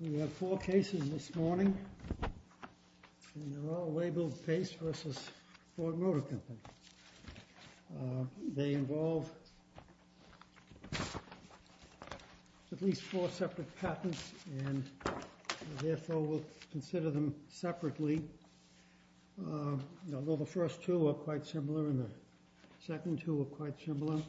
We have four cases this morning, and they're all labeled Paice v. Ford Motor Company. They involve at least four separate patents, and therefore we'll consider them separately. Although the first two are quite similar and the second two are quite similar.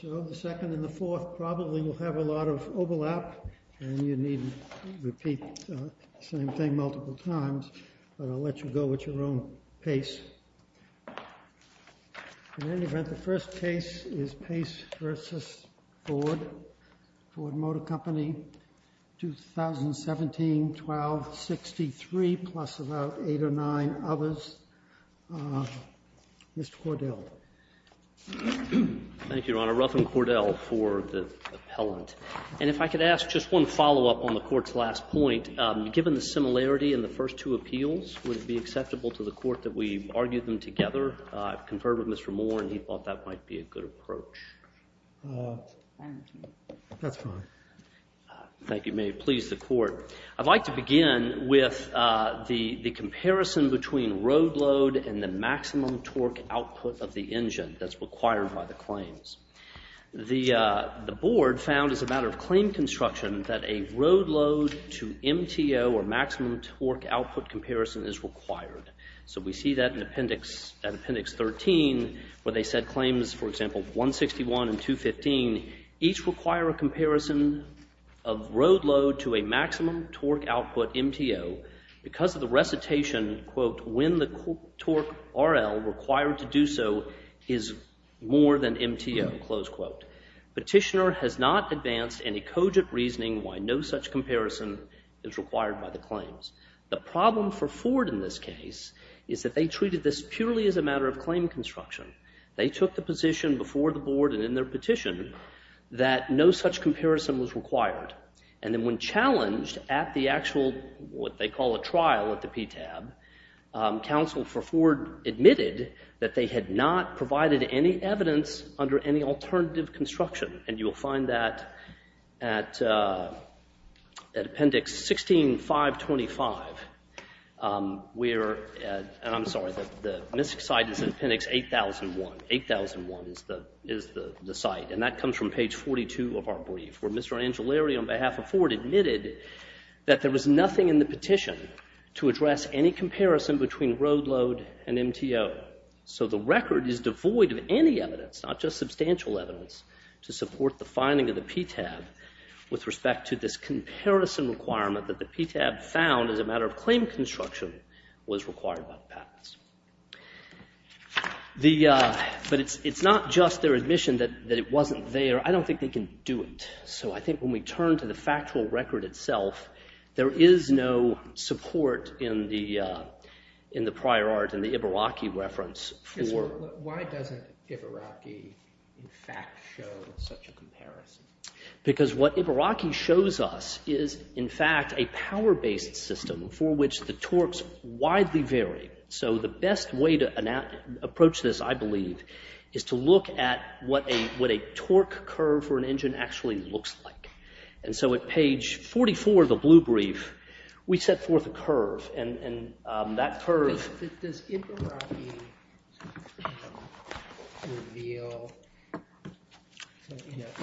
So the second and the fourth probably will have a lot of overlap, and you need to repeat the same thing multiple times. But I'll let you go at your own pace. In any event, the first case is Paice v. Ford Motor Company, 2017-12-63, plus about eight or nine others. Mr. Cordell. Thank you, Your Honor. Ruffin Cordell for the appellant. And if I could ask just one follow-up on the Court's last point. Given the similarity in the first two appeals, would it be acceptable to the Court that we argue them together? I've conferred with Mr. Moore, and he thought that might be a good approach. That's fine. Thank you. May it please the Court. I'd like to begin with the comparison between road load and the maximum torque output of the engine that's required by the claims. The Board found as a matter of claim construction that a road load to MTO, or maximum torque output comparison, is required. So we see that in Appendix 13 where they said claims, for example, 161 and 215, each require a comparison of road load to a maximum torque output MTO. Because of the recitation, quote, when the torque RL required to do so is more than MTO, close quote. Petitioner has not advanced any cogent reasoning why no such comparison is required by the claims. The problem for Ford in this case is that they treated this purely as a matter of claim construction. They took the position before the Board and in their petition that no such comparison was required. And then when challenged at the actual what they call a trial at the PTAB, counsel for Ford admitted that they had not provided any evidence under any alternative construction. And you'll find that at Appendix 16, 525, where, and I'm sorry, the MISC site is Appendix 8001. 8001 is the site. And that comes from page 42 of our brief where Mr. Angilari on behalf of Ford admitted that there was nothing in the petition to address any comparison between road load and MTO. So the record is devoid of any evidence, not just substantial evidence, to support the finding of the PTAB with respect to this comparison requirement that the PTAB found as a matter of claim construction was required by the patents. But it's not just their admission that it wasn't there. I don't think they can do it. So I think when we turn to the factual record itself, there is no support in the prior art and the Ibaraki reference for- Why doesn't Ibaraki in fact show such a comparison? Because what Ibaraki shows us is in fact a power-based system for which the torques widely vary. So the best way to approach this, I believe, is to look at what a torque curve for an engine actually looks like. And so at page 44 of the blue brief, we set forth a curve, and that curve-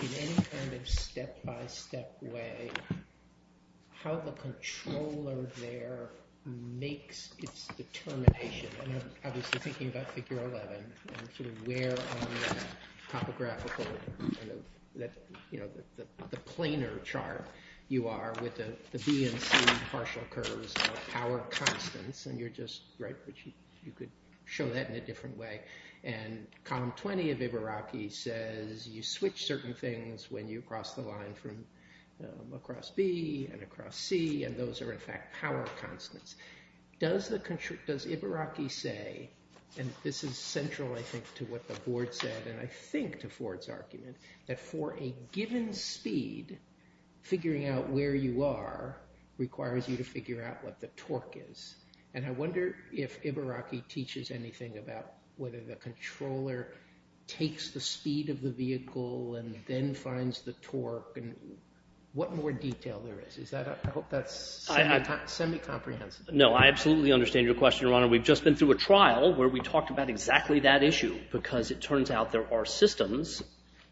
in any kind of step-by-step way, how the controller there makes its determination. And I'm obviously thinking about Figure 11, where on the topographical- the planar chart you are with the B and C partial curves of power constants, and you're just- You could show that in a different way. And column 20 of Ibaraki says you switch certain things when you cross the line from across B and across C, and those are in fact power constants. Does Ibaraki say- and this is central, I think, to what the board said, and I think to Ford's argument- that for a given speed, figuring out where you are requires you to figure out what the torque is. And I wonder if Ibaraki teaches anything about whether the controller takes the speed of the vehicle and then finds the torque, and what more detail there is. Is that- I hope that's semi-comprehensive. No, I absolutely understand your question, Your Honor. We've just been through a trial where we talked about exactly that issue, because it turns out there are systems-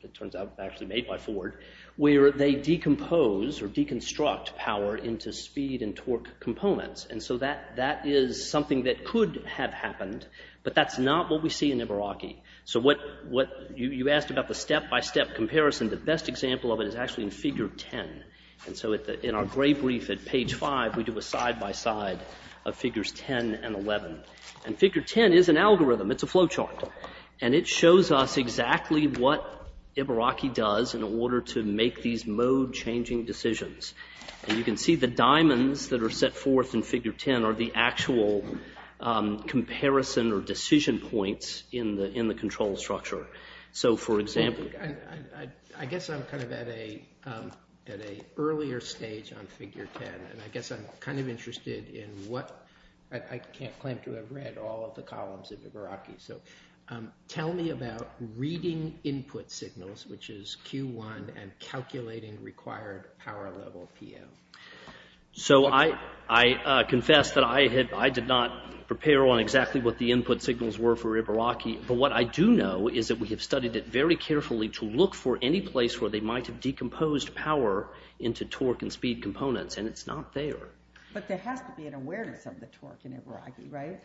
it turns out actually made by Ford- where they decompose or deconstruct power into speed and torque components. And so that is something that could have happened, but that's not what we see in Ibaraki. So what- you asked about the step-by-step comparison. The best example of it is actually in figure 10. And so in our gray brief at page 5, we do a side-by-side of figures 10 and 11. And figure 10 is an algorithm. It's a flow chart, and it shows us exactly what Ibaraki does in order to make these mode-changing decisions. And you can see the diamonds that are set forth in figure 10 are the actual comparison or decision points in the control structure. So, for example- I guess I'm kind of at an earlier stage on figure 10, and I guess I'm kind of interested in what- I can't claim to have read all of the columns of Ibaraki. So, tell me about reading input signals, which is Q1, and calculating required power level, PO. So I confess that I did not prepare on exactly what the input signals were for Ibaraki, but what I do know is that we have studied it very carefully to look for any place where they might have decomposed power into torque and speed components, and it's not there. But there has to be an awareness of the torque in Ibaraki, right?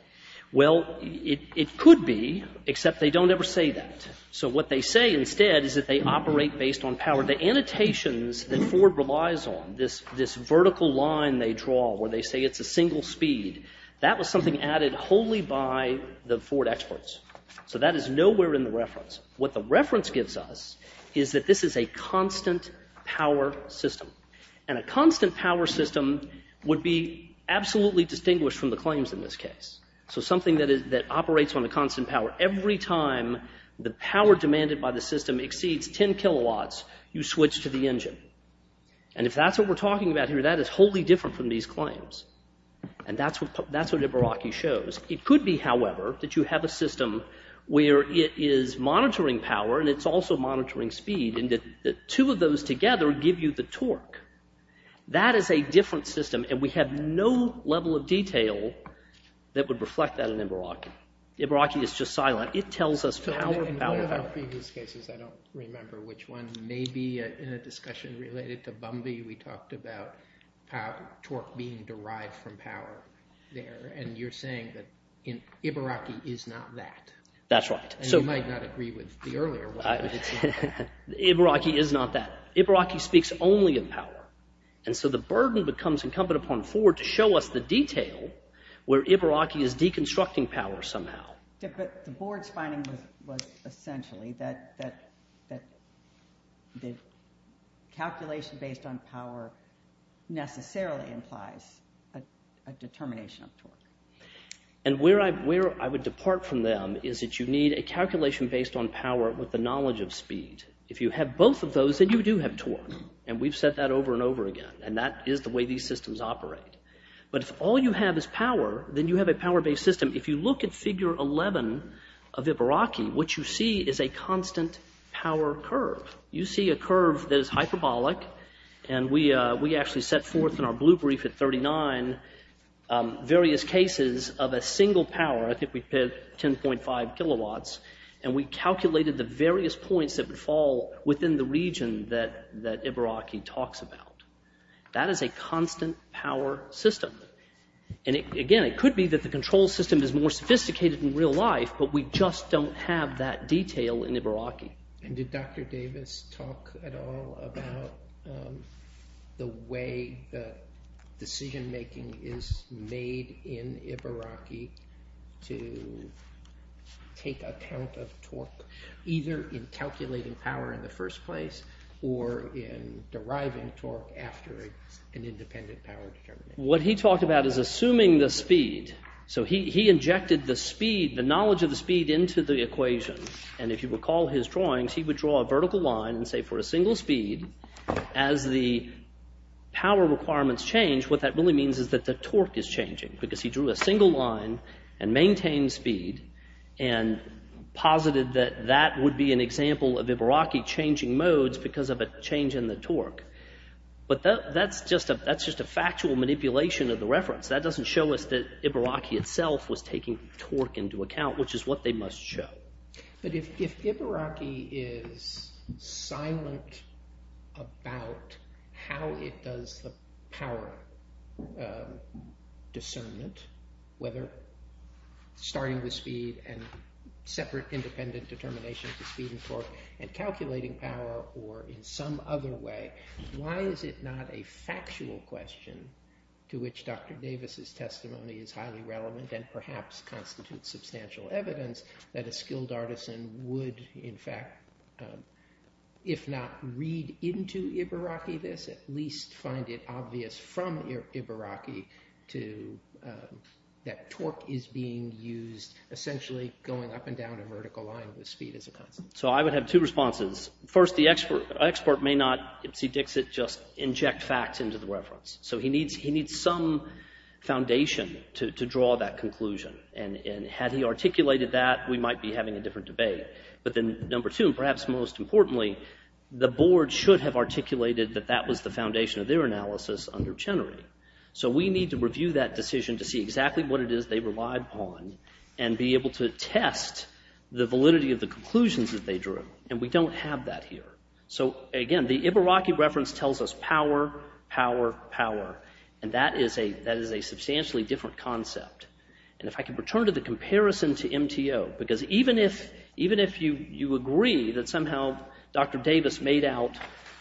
Well, it could be, except they don't ever say that. So what they say instead is that they operate based on power. The annotations that Ford relies on, this vertical line they draw where they say it's a single speed, that was something added wholly by the Ford experts. So that is nowhere in the reference. What the reference gives us is that this is a constant power system, and a constant power system would be absolutely distinguished from the claims in this case. So something that operates on a constant power, every time the power demanded by the system exceeds 10 kilowatts, you switch to the engine. And if that's what we're talking about here, that is wholly different from these claims. And that's what Ibaraki shows. It could be, however, that you have a system where it is monitoring power, and it's also monitoring speed, and the two of those together give you the torque. That is a different system, and we have no level of detail that would reflect that in Ibaraki. Ibaraki is just silent. It tells us power, power, power. In one of our previous cases, I don't remember which one, maybe in a discussion related to Bumby, we talked about torque being derived from power there, and you're saying that Ibaraki is not that. That's right. And you might not agree with the earlier one. Ibaraki is not that. Ibaraki speaks only of power. And so the burden becomes incumbent upon Ford to show us the detail where Ibaraki is deconstructing power somehow. But the board's finding was essentially that the calculation based on power necessarily implies a determination of torque. And where I would depart from them is that you need a calculation based on power with the knowledge of speed. If you have both of those, then you do have torque, and we've said that over and over again, and that is the way these systems operate. But if all you have is power, then you have a power-based system. If you look at Figure 11 of Ibaraki, what you see is a constant power curve. You see a curve that is hyperbolic, and we actually set forth in our blue brief at 39 various cases of a single power. I think we did 10.5 kilowatts, and we calculated the various points that would fall within the region that Ibaraki talks about. That is a constant power system. And again, it could be that the control system is more sophisticated in real life, but we just don't have that detail in Ibaraki. And did Dr. Davis talk at all about the way that decision-making is made in Ibaraki to take account of torque, either in calculating power in the first place or in deriving torque after an independent power determination? What he talked about is assuming the speed. So he injected the speed, the knowledge of the speed, into the equation. And if you recall his drawings, he would draw a vertical line and say for a single speed, as the power requirements change, what that really means is that the torque is changing because he drew a single line and maintained speed and posited that that would be an example of Ibaraki changing modes because of a change in the torque. But that's just a factual manipulation of the reference. That doesn't show us that Ibaraki itself was taking torque into account, which is what they must show. But if Ibaraki is silent about how it does the power discernment, whether starting with speed and separate independent determination for speed and torque and calculating power or in some other way, why is it not a factual question to which Dr. Davis' testimony is highly relevant and perhaps constitutes substantial evidence that a skilled artisan would, in fact, if not read into Ibaraki this, at least find it obvious from Ibaraki that torque is being used essentially going up and down a vertical line with speed as a constant. So I would have two responses. First, the expert may not, see Dixit, just inject facts into the reference. So he needs some foundation to draw that conclusion. And had he articulated that, we might be having a different debate. But then number two, and perhaps most importantly, the board should have articulated that that was the foundation of their analysis under Chenery. So we need to review that decision to see exactly what it is they relied upon and be able to test the validity of the conclusions that they drew. And we don't have that here. So again, the Ibaraki reference tells us power, power, power. And that is a substantially different concept. And if I can return to the comparison to MTO, because even if you agree that somehow Dr. Davis made out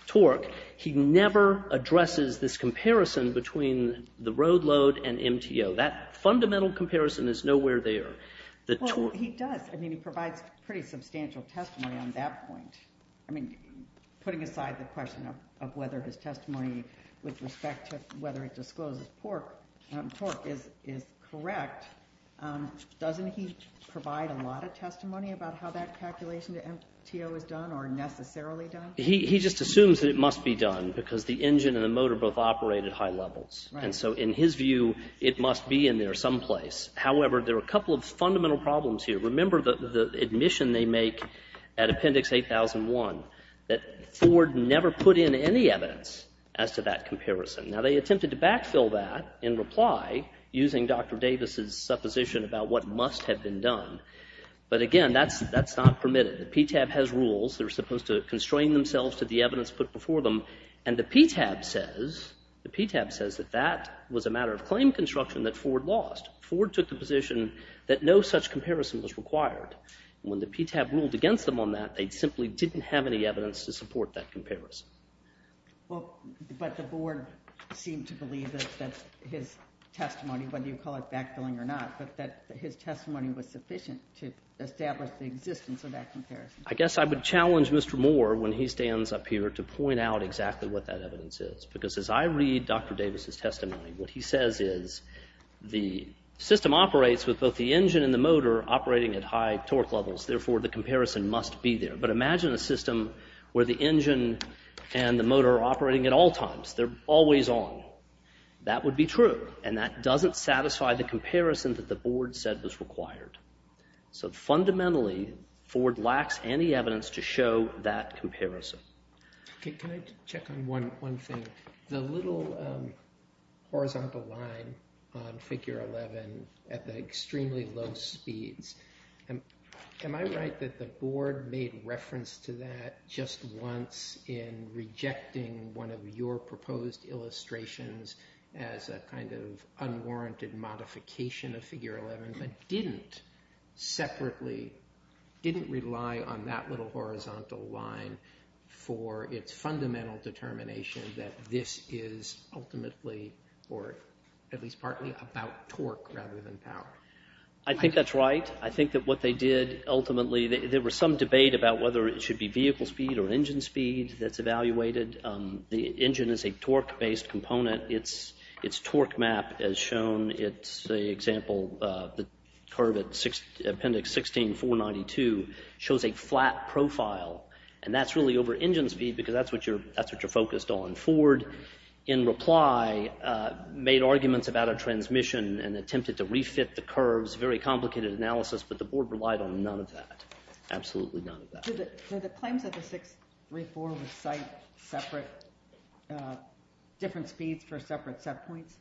torque, he never addresses this comparison between the road load and MTO. That fundamental comparison is nowhere there. Well, he does. I mean, he provides pretty substantial testimony on that point. I mean, putting aside the question of whether his testimony with respect to whether it discloses torque is correct, doesn't he provide a lot of testimony about how that calculation to MTO is done or necessarily done? He just assumes that it must be done because the engine and the motor both operate at high levels. And so in his view, it must be in there someplace. However, there are a couple of fundamental problems here. Remember the admission they make at Appendix 8001 that Ford never put in any evidence as to that comparison. Now, they attempted to backfill that in reply using Dr. Davis' supposition about what must have been done. But again, that's not permitted. The PTAB has rules. They're supposed to constrain themselves to the evidence put before them. And the PTAB says that that was a matter of claim construction that Ford lost. Ford took the position that no such comparison was required. When the PTAB ruled against them on that, they simply didn't have any evidence to support that comparison. Well, but the board seemed to believe that his testimony, whether you call it backfilling or not, but that his testimony was sufficient to establish the existence of that comparison. I guess I would challenge Mr. Moore when he stands up here to point out exactly what that evidence is because as I read Dr. Davis' testimony, what he says is the system operates with both the engine and the motor operating at high torque levels. Therefore, the comparison must be there. But imagine a system where the engine and the motor are operating at all times. They're always on. That would be true, and that doesn't satisfy the comparison that the board said was required. So fundamentally, Ford lacks any evidence to show that comparison. Can I check on one thing? The little horizontal line on Figure 11 at the extremely low speeds, am I right that the board made reference to that just once in rejecting one of your proposed illustrations as a kind of unwarranted modification of Figure 11 but didn't separately, didn't rely on that little horizontal line for its fundamental determination that this is ultimately or at least partly about torque rather than power? I think that's right. I think that what they did ultimately, there was some debate about whether it should be vehicle speed or engine speed that's evaluated. The engine is a torque-based component. Its torque map as shown, it's the example of the curve at appendix 16, 492, shows a flat profile, and that's really over engine speed because that's what you're focused on. Ford, in reply, made arguments about a transmission and attempted to refit the curves, very complicated analysis, but the board relied on none of that, absolutely none of that. So the claims that the 634 recite separate, different speeds for separate set points?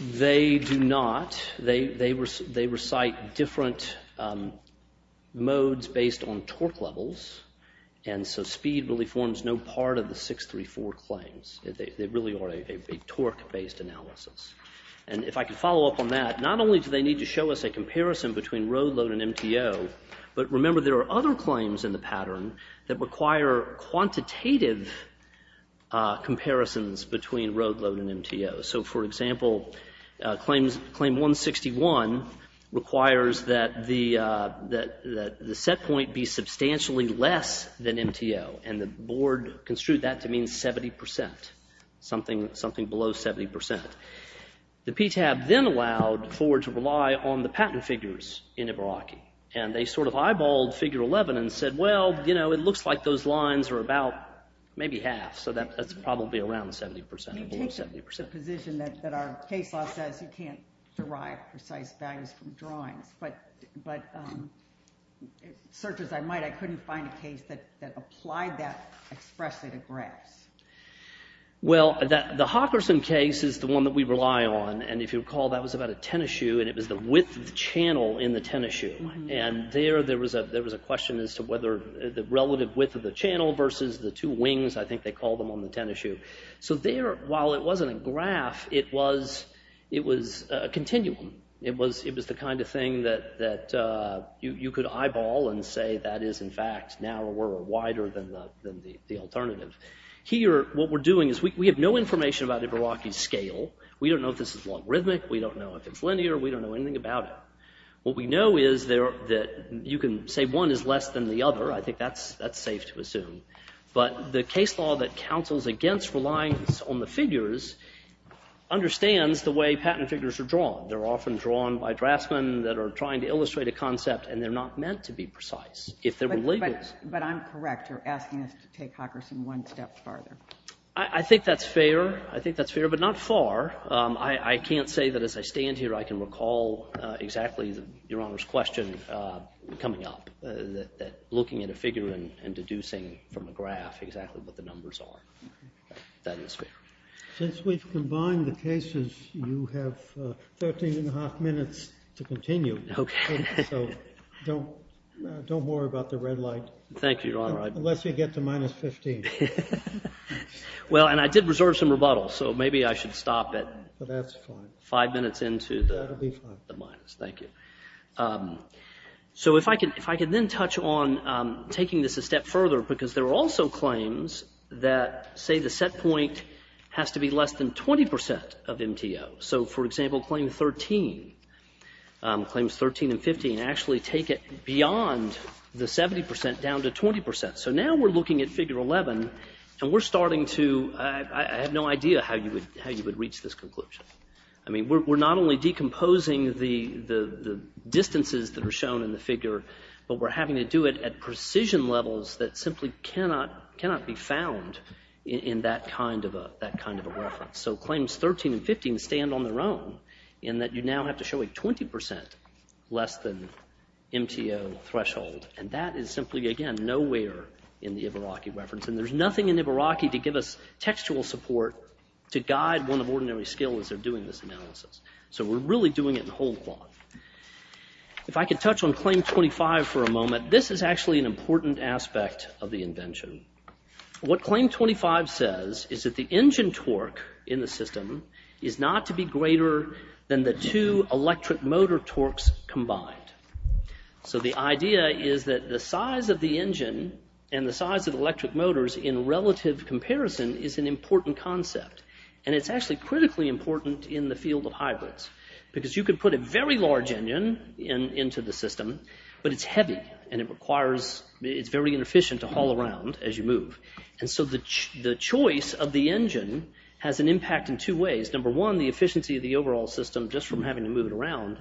They do not. They recite different modes based on torque levels, and so speed really forms no part of the 634 claims. They really are a torque-based analysis. And if I could follow up on that, not only do they need to show us a comparison between road load and MTO, but remember there are other claims in the pattern that require quantitative comparisons between road load and MTO. So for example, claim 161 requires that the set point be substantially less than MTO, and the board construed that to mean 70%, something below 70%. The PTAB then allowed Ford to rely on the pattern figures in Ibaraki, and they sort of eyeballed figure 11 and said, well, you know, it looks like those lines are about maybe half, so that's probably around 70%, below 70%. You take the position that our case law says you can't derive precise values from drawings, but search as I might, I couldn't find a case that applied that expressly to graphs. Well, the Hawkerson case is the one that we rely on, and if you recall, that was about a tennis shoe, and it was the width of the channel in the tennis shoe. And there was a question as to whether the relative width of the channel versus the two wings, I think they call them on the tennis shoe. So there, while it wasn't a graph, it was a continuum. It was the kind of thing that you could eyeball and say that is in fact narrower or wider than the alternative. Here, what we're doing is we have no information about Ibaraki's scale. We don't know if this is logarithmic. We don't know if it's linear. We don't know anything about it. What we know is that you can say one is less than the other. I think that's safe to assume. But the case law that counsels against reliance on the figures understands the way patent figures are drawn. They're often drawn by draftsmen that are trying to illustrate a concept, and they're not meant to be precise. But I'm correct. You're asking us to take Hawkerson one step farther. I think that's fair. I think that's fair, but not far. I can't say that as I stand here, I can recall exactly Your Honor's question coming up, that looking at a figure and deducing from a graph exactly what the numbers are. That is fair. Since we've combined the cases, you have 13 and a half minutes to continue. Okay. So don't worry about the red light. Thank you, Your Honor. Unless you get to minus 15. Well, and I did reserve some rebuttals, so maybe I should stop at That's fine. five minutes into the minus. That will be fine. Thank you. So if I could then touch on taking this a step further, because there are also claims that, say, the set point has to be less than 20% of MTO. So, for example, Claim 13, Claims 13 and 15, actually take it beyond the 70% down to 20%. So now we're looking at Figure 11, and we're starting to I have no idea how you would reach this conclusion. I mean, we're not only decomposing the distances that are shown in the figure, but we're having to do it at precision levels that simply cannot be found in that kind of a reference. So Claims 13 and 15 stand on their own in that you now have to show a 20% less than MTO threshold. And that is simply, again, nowhere in the Ibaraki reference. And there's nothing in Ibaraki to give us textual support to guide one of ordinary skill as they're doing this analysis. So we're really doing it in whole cloth. If I could touch on Claim 25 for a moment, this is actually an important aspect of the invention. What Claim 25 says is that the engine torque in the system is not to be greater than the two electric motor torques combined. So the idea is that the size of the engine and the size of the electric motors in relative comparison is an important concept. And it's actually critically important in the field of hybrids because you could put a very large engine into the system, but it's heavy and it requires, it's very inefficient to haul around as you move. And so the choice of the engine has an impact in two ways. Number one, the efficiency of the overall system just from having to move it around.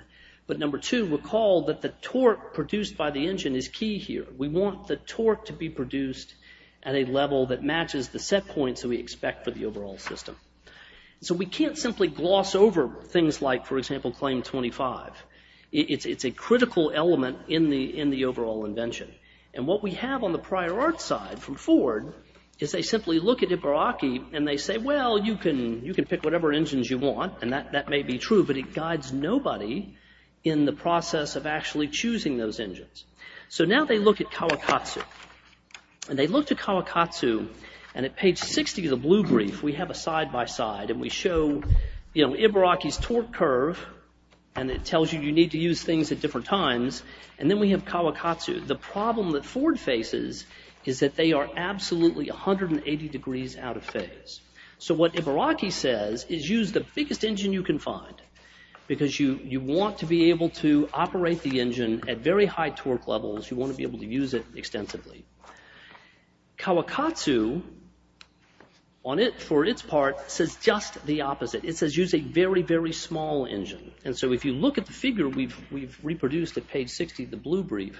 But number two, recall that the torque produced by the engine is key here. We want the torque to be produced at a level that matches the set points that we expect for the overall system. So we can't simply gloss over things like, for example, Claim 25. It's a critical element in the overall invention. And what we have on the prior art side from Ford is they simply look at Ibaraki and they say, well, you can pick whatever engines you want, and that may be true, but it guides nobody in the process of actually choosing those engines. So now they look at Kawakatsu. And they look to Kawakatsu, and at page 60 of the blue brief, we have a side-by-side, and we show Ibaraki's torque curve, and it tells you you need to use things at different times, and then we have Kawakatsu. The problem that Ford faces is that they are absolutely 180 degrees out of phase. So what Ibaraki says is use the biggest engine you can find because you want to be able to operate the engine at very high torque levels. You want to be able to use it extensively. Kawakatsu, for its part, says just the opposite. It says use a very, very small engine. And so if you look at the figure we've reproduced at page 60 of the blue brief,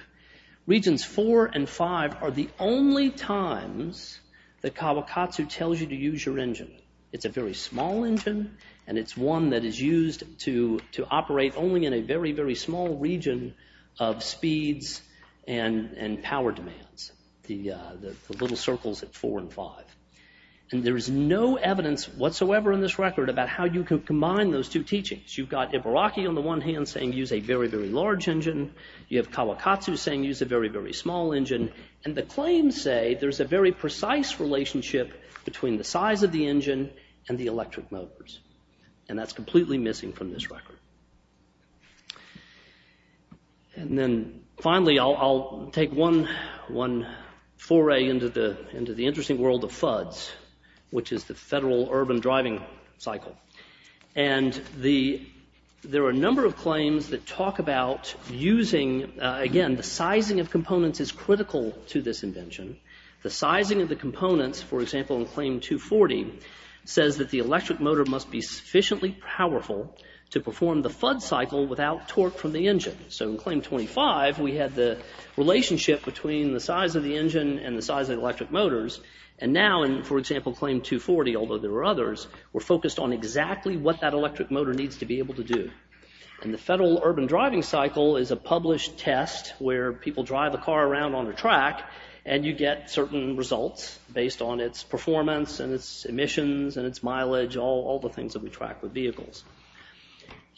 regions 4 and 5 are the only times that Kawakatsu tells you to use your engine. It's a very small engine, and it's one that is used to operate only in a very, very small region of speeds and power demands. The little circles at 4 and 5. And there is no evidence whatsoever in this record about how you can combine those two teachings. You've got Ibaraki on the one hand saying use a very, very large engine. You have Kawakatsu saying use a very, very small engine. And the claims say there's a very precise relationship between the size of the engine and the electric motors. And that's completely missing from this record. And then finally, I'll take one foray into the interesting world of FUDS, which is the Federal Urban Driving Cycle. And there are a number of claims that talk about using, again, the sizing of components is critical to this invention. The sizing of the components, for example, in Claim 240, says that the electric motor must be sufficiently powerful to perform the FUDS cycle without torque from the engine. So in Claim 25, we had the relationship between the size of the engine and the size of the electric motors. And now in, for example, Claim 240, although there are others, we're focused on exactly what that electric motor needs to be able to do. And the Federal Urban Driving Cycle is a published test where people drive a car around on a track and you get certain results based on its performance and its emissions and its mileage, all the things that we track with vehicles.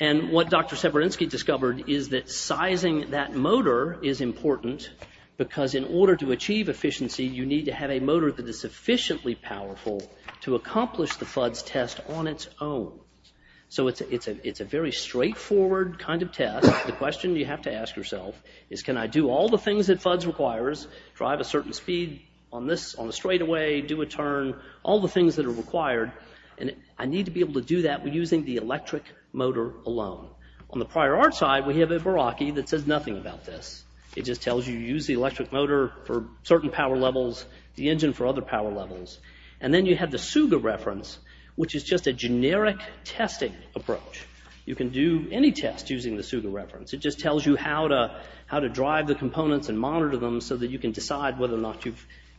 And what Dr. Severinsky discovered is that sizing that motor is important because in order to achieve efficiency, you need to have a motor that is sufficiently powerful to accomplish the FUDS test on its own. So it's a very straightforward kind of test. The question you have to ask yourself is, can I do all the things that FUDS requires, drive a certain speed on a straightaway, do a turn, all the things that are required, and I need to be able to do that using the electric motor alone. On the prior art side, we have a Verrocki that says nothing about this. It just tells you to use the electric motor for certain power levels, the engine for other power levels. And then you have the SUGA reference, which is just a generic testing approach. You can do any test using the SUGA reference. It just tells you how to drive the components and monitor them so that you can decide whether or not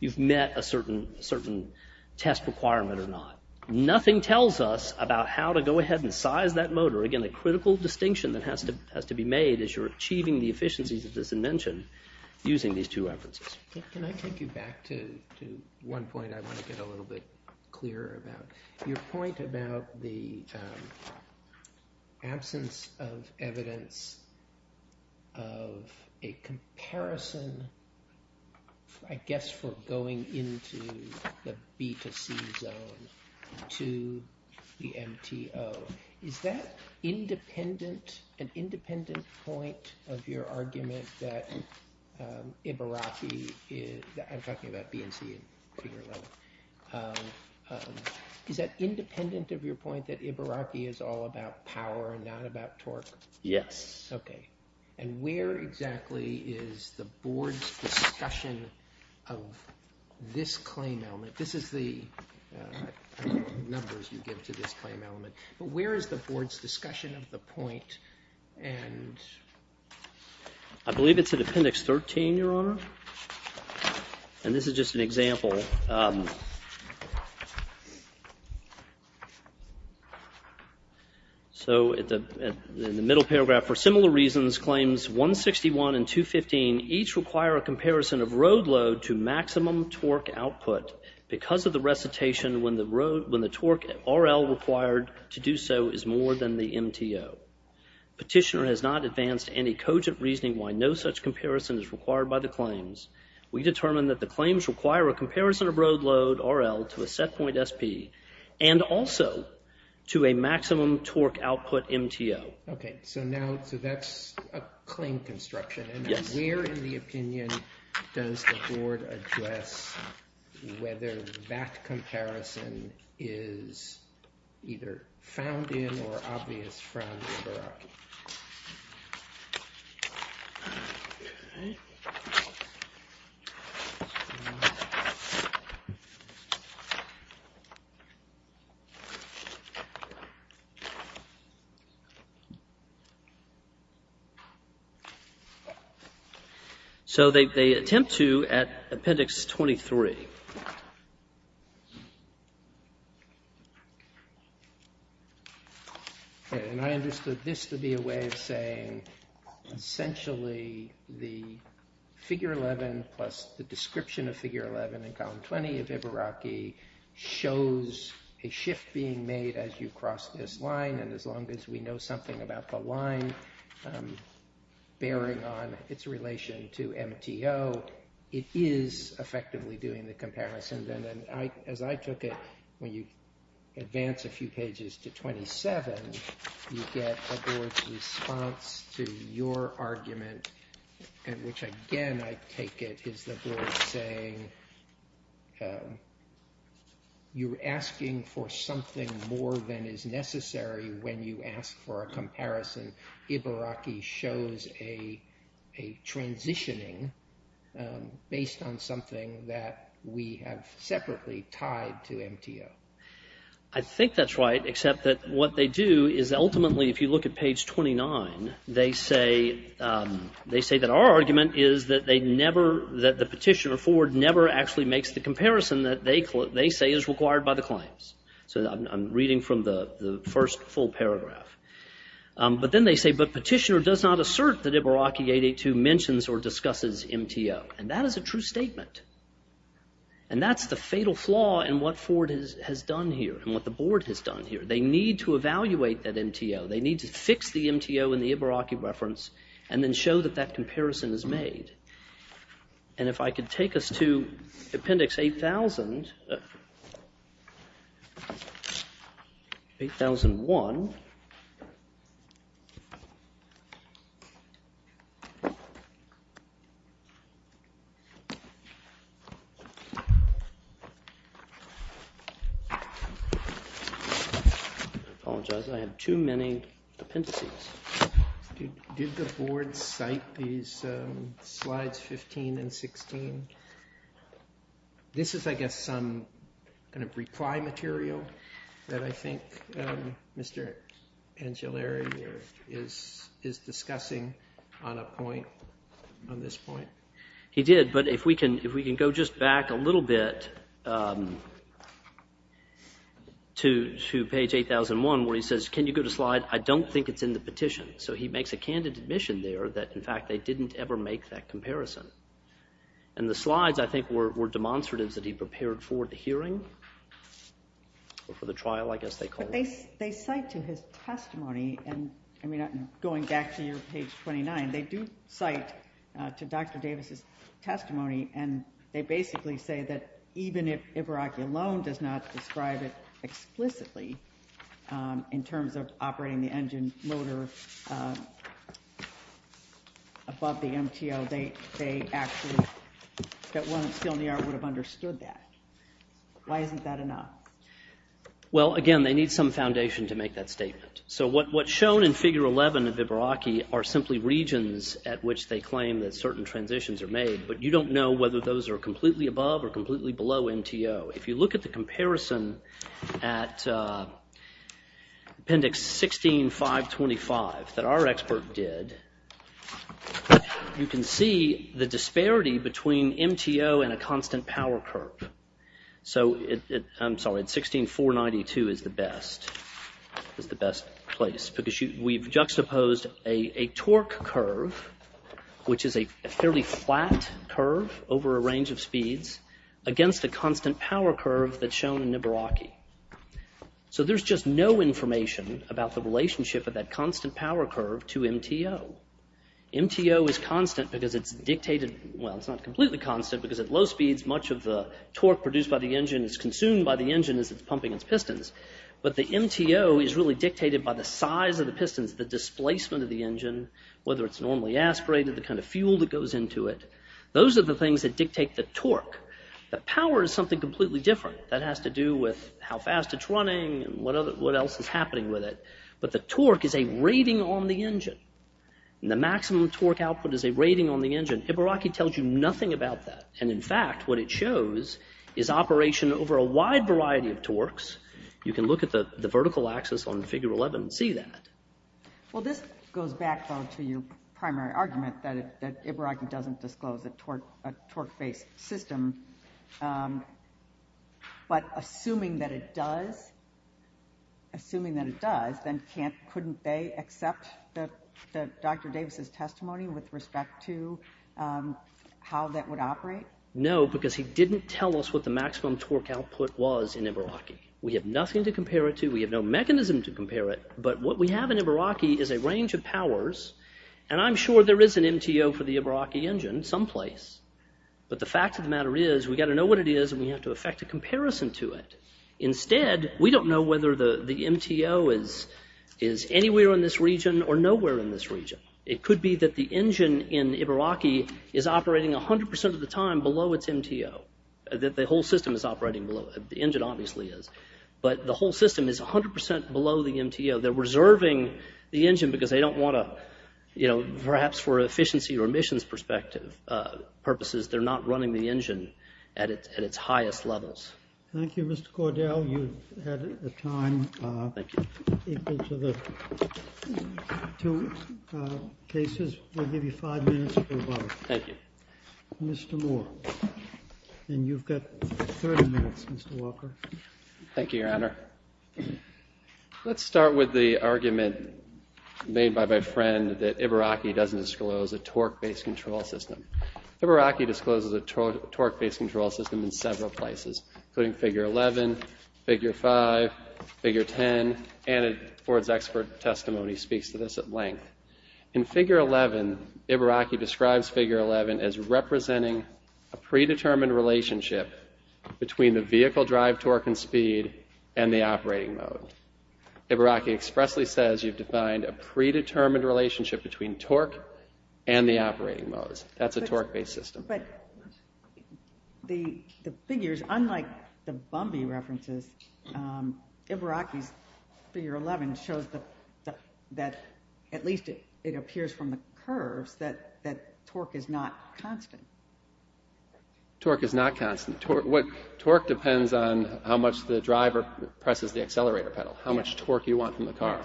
you've met a certain test requirement or not. Nothing tells us about how to go ahead and size that motor. Again, the critical distinction that has to be made is you're achieving the efficiencies as I mentioned using these two references. Can I take you back to one point I want to get a little bit clearer about? Your point about the absence of evidence of a comparison, I guess for going into the B to C zone to the MTO. Is that an independent point of your argument that Ibaraki is – is that independent of your point that Ibaraki is all about power and not about torque? Yes. Okay. And where exactly is the board's discussion of this claim element? This is the numbers you give to this claim element. But where is the board's discussion of the point? I believe it's at Appendix 13, Your Honor. And this is just an example. So in the middle paragraph, for similar reasons claims 161 and 215 each require a comparison of road load to maximum torque output because of the recitation when the torque RL required to do so is more than the MTO. Petitioner has not advanced any cogent reasoning why no such comparison is required by the claims. We determine that the claims require a comparison of road load RL to a set point SP and also to a maximum torque output MTO. Okay. So that's a claim construction. Yes. And where in the opinion does the board address whether that comparison is either found in or obvious from Ibaraki? So they attempt to at Appendix 23. Okay. And I understood this to be a way of saying essentially the Figure 11 plus the description of Figure 11 in Column 20 of Ibaraki shows a shift being made as you cross this line and as long as we know something about the line bearing on its relation to MTO, it is effectively doing the comparison. And as I took it, when you advance a few pages to 27, you get a board's response to your argument, which again I take it is the board saying, you're asking for something more than is necessary when you ask for a comparison. Ibaraki shows a transitioning based on something that we have separately tied to MTO. I think that's right, except that what they do is ultimately if you look at Page 29, they say that our argument is that the petitioner, Ford, never actually makes the comparison that they say is required by the claims. So I'm reading from the first full paragraph. But then they say, but petitioner does not assert that Ibaraki 882 mentions or discusses MTO. And that is a true statement. And that's the fatal flaw in what Ford has done here and what the board has done here. They need to evaluate that MTO. They need to fix the MTO in the Ibaraki reference and then show that that comparison is made. And if I could take us to Appendix 8000. 8001. I apologize, I have too many appendices. Did the board cite these slides 15 and 16? This is, I guess, some kind of reply material that I think Mr. Angiolari is discussing on a point, on this point. He did, but if we can go just back a little bit to Page 8001 where he says, can you go to slide, I don't think it's in the petition. So he makes a candid admission there that, in fact, they didn't ever make that comparison. And the slides, I think, were demonstratives that he prepared for the hearing or for the trial, I guess they call it. But they cite to his testimony, and I mean, going back to your Page 29, they do cite to Dr. Davis' testimony. And they basically say that even if Ibaraki alone does not describe it explicitly in terms of operating the engine motor above the MTO, they actually, that one of Stilniar would have understood that. Why isn't that enough? Well, again, they need some foundation to make that statement. So what's shown in Figure 11 of Ibaraki are simply regions at which they claim that certain transitions are made. But you don't know whether those are completely above or completely below MTO. If you look at the comparison at Appendix 16.525 that our expert did, you can see the disparity between MTO and a constant power curve. So, I'm sorry, 16.492 is the best, is the best place. Because we've juxtaposed a torque curve, which is a fairly flat curve over a range of speeds, against a constant power curve that's shown in Ibaraki. So there's just no information about the relationship of that constant power curve to MTO. MTO is constant because it's dictated, well, it's not completely constant because at low speeds, much of the torque produced by the engine is consumed by the engine as it's pumping its pistons. But the MTO is really dictated by the size of the pistons, the displacement of the engine, whether it's normally aspirated, the kind of fuel that goes into it. Those are the things that dictate the torque. The power is something completely different. That has to do with how fast it's running and what else is happening with it. But the torque is a rating on the engine. And the maximum torque output is a rating on the engine. Ibaraki tells you nothing about that. And, in fact, what it shows is operation over a wide variety of torques. You can look at the vertical axis on figure 11 and see that. Well, this goes back, though, to your primary argument that Ibaraki doesn't disclose a torque-based system. But assuming that it does, then couldn't they accept Dr. Davis' testimony with respect to how that would operate? No, because he didn't tell us what the maximum torque output was in Ibaraki. We have nothing to compare it to. We have no mechanism to compare it. But what we have in Ibaraki is a range of powers. And I'm sure there is an MTO for the Ibaraki engine someplace. But the fact of the matter is we've got to know what it is, and we have to effect a comparison to it. Instead, we don't know whether the MTO is anywhere in this region or nowhere in this region. It could be that the engine in Ibaraki is operating 100 percent of the time below its MTO, that the whole system is operating below it. The engine obviously is. But the whole system is 100 percent below the MTO. They're reserving the engine because they don't want to, perhaps for efficiency or emissions purposes, they're not running the engine at its highest levels. Thank you, Mr. Cordell. You've had a time equal to the two cases. We'll give you five minutes for a vote. Thank you. Mr. Moore. And you've got 30 minutes, Mr. Walker. Thank you, Your Honor. Let's start with the argument made by my friend that Ibaraki doesn't disclose a torque-based control system. Ibaraki discloses a torque-based control system in several places, including figure 11, figure 5, figure 10, and Ford's expert testimony speaks to this at length. In figure 11, Ibaraki describes figure 11 as representing a predetermined relationship between the vehicle drive torque and speed and the operating mode. Ibaraki expressly says you've defined a predetermined relationship between torque and the operating modes. That's a torque-based system. But the figures, unlike the Bumby references, Ibaraki's figure 11 shows that at least it appears from the curves that torque is not constant. Torque is not constant. Torque depends on how much the driver presses the accelerator pedal, how much torque you want from the car.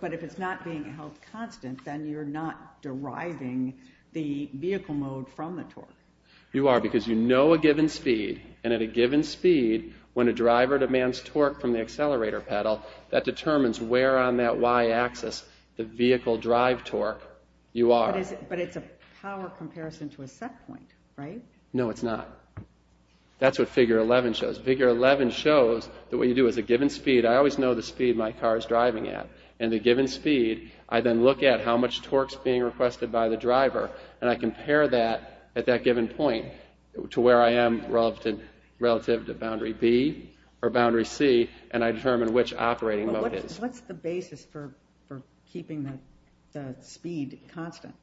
But if it's not being held constant, then you're not deriving the vehicle mode from the torque. You are, because you know a given speed, and at a given speed, when a driver demands torque from the accelerator pedal, that determines where on that y-axis the vehicle drive torque you are. But it's a power comparison to a set point, right? No, it's not. That's what figure 11 shows. Figure 11 shows that what you do is a given speed. I always know the speed my car is driving at. And at a given speed, I then look at how much torque is being requested by the driver, and I compare that at that given point to where I am relative to boundary B or boundary C, and I determine which operating mode it is. What's the basis for keeping the speed constant?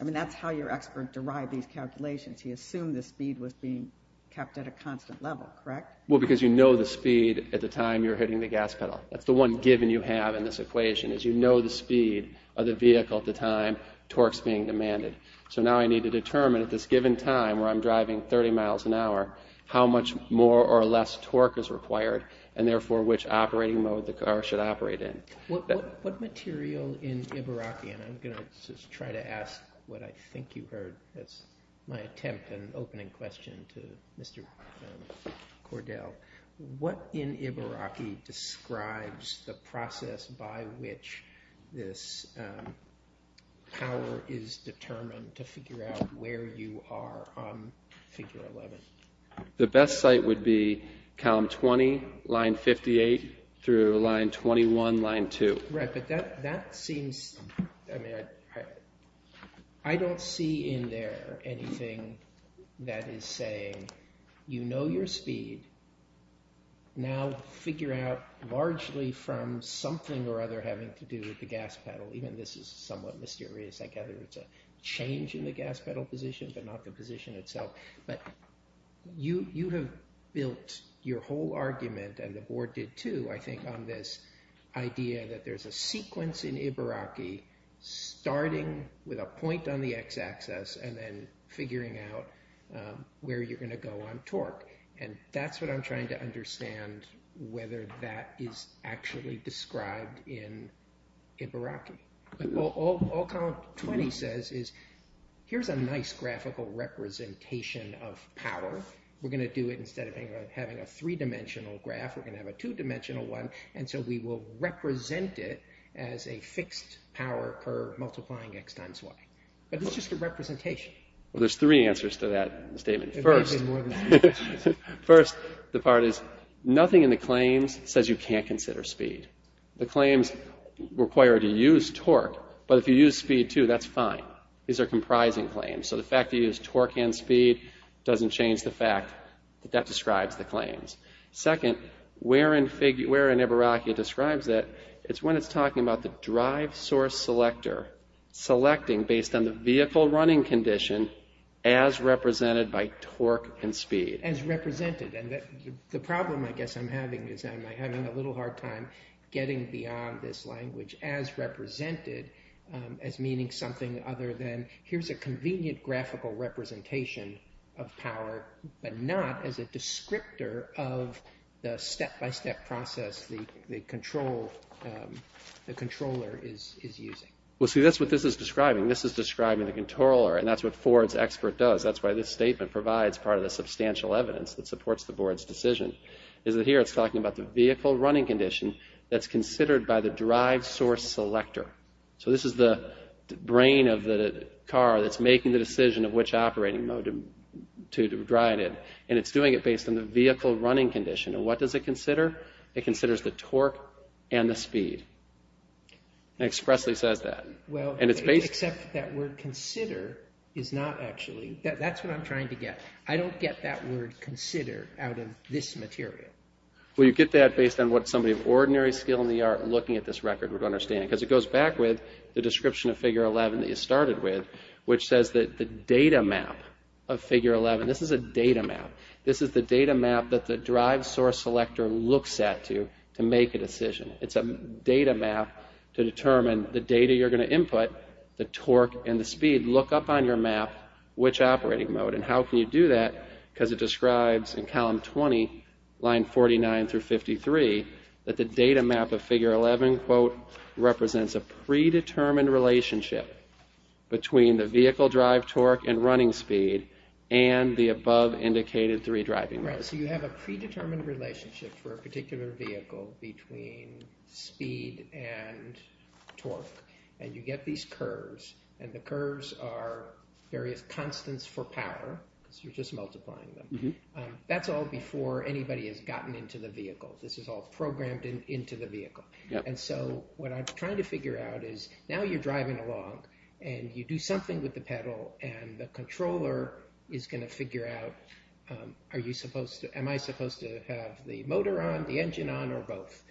I mean, that's how your expert derived these calculations. He assumed the speed was being kept at a constant level, correct? Well, because you know the speed at the time you're hitting the gas pedal. That's the one given you have in this equation, is you know the speed of the vehicle at the time torque's being demanded. So now I need to determine at this given time, where I'm driving 30 miles an hour, how much more or less torque is required, and therefore which operating mode the car should operate in. What material in Ibaraki, and I'm going to just try to ask what I think you heard. That's my attempt and opening question to Mr. Cordell. What in Ibaraki describes the process by which this power is determined to figure out where you are on figure 11? The best site would be column 20, line 58, through line 21, line 2. Right, but that seems, I mean, I don't see in there anything that is saying, you know your speed, now figure out largely from something or other having to do with the gas pedal. Even this is somewhat mysterious. I gather it's a change in the gas pedal position, but not the position itself. But you have built your whole argument, and the board did too, I think, on this idea that there's a sequence in Ibaraki starting with a point on the x-axis and then figuring out where you're going to go on torque. And that's what I'm trying to understand, whether that is actually described in Ibaraki. All column 20 says is here's a nice graphical representation of power. We're going to do it instead of having a three-dimensional graph, we're going to have a two-dimensional one, and so we will represent it as a fixed power curve multiplying x times y. But it's just a representation. Well, there's three answers to that statement. First, the part is nothing in the claims says you can't consider speed. The claims require that you use torque, but if you use speed too, that's fine. These are comprising claims. So the fact that you use torque and speed doesn't change the fact that that describes the claims. Second, where in Ibaraki it describes that, it's when it's talking about the drive source selector selecting based on the vehicle running condition as represented by torque and speed. As represented. And the problem I guess I'm having is I'm having a little hard time getting beyond this language as represented as meaning something other than here's a convenient graphical representation of power, but not as a descriptor of the step-by-step process the controller is using. Well, see, that's what this is describing. This is describing the controller, and that's what Ford's expert does. That's why this statement provides part of the substantial evidence that supports the board's decision, is that here it's talking about the vehicle running condition that's considered by the drive source selector. So this is the brain of the car that's making the decision of which operating mode to drive in, and it's doing it based on the vehicle running condition. And what does it consider? It considers the torque and the speed. It expressly says that. Well, except that word consider is not actually, that's what I'm trying to get. I don't get that word consider out of this material. Well, you get that based on what somebody of ordinary skill in the art looking at this record would understand, because it goes back with the description of Figure 11 that you started with, which says that the data map of Figure 11, this is a data map. This is the data map that the drive source selector looks at to make a decision. It's a data map to determine the data you're going to input, the torque and the speed. Look up on your map which operating mode, and how can you do that? Because it describes in column 20, line 49 through 53, that the data map of Figure 11, quote, represents a predetermined relationship between the vehicle drive torque and running speed and the above indicated three driving modes. Right. So you have a predetermined relationship for a particular vehicle between speed and torque, and you get these curves, and the curves are various constants for power, because you're just multiplying them. That's all before anybody has gotten into the vehicle. This is all programmed into the vehicle. And so what I'm trying to figure out is now you're driving along and you do something with the pedal and the controller is going to figure out, am I supposed to have the motor on, the engine on, or both?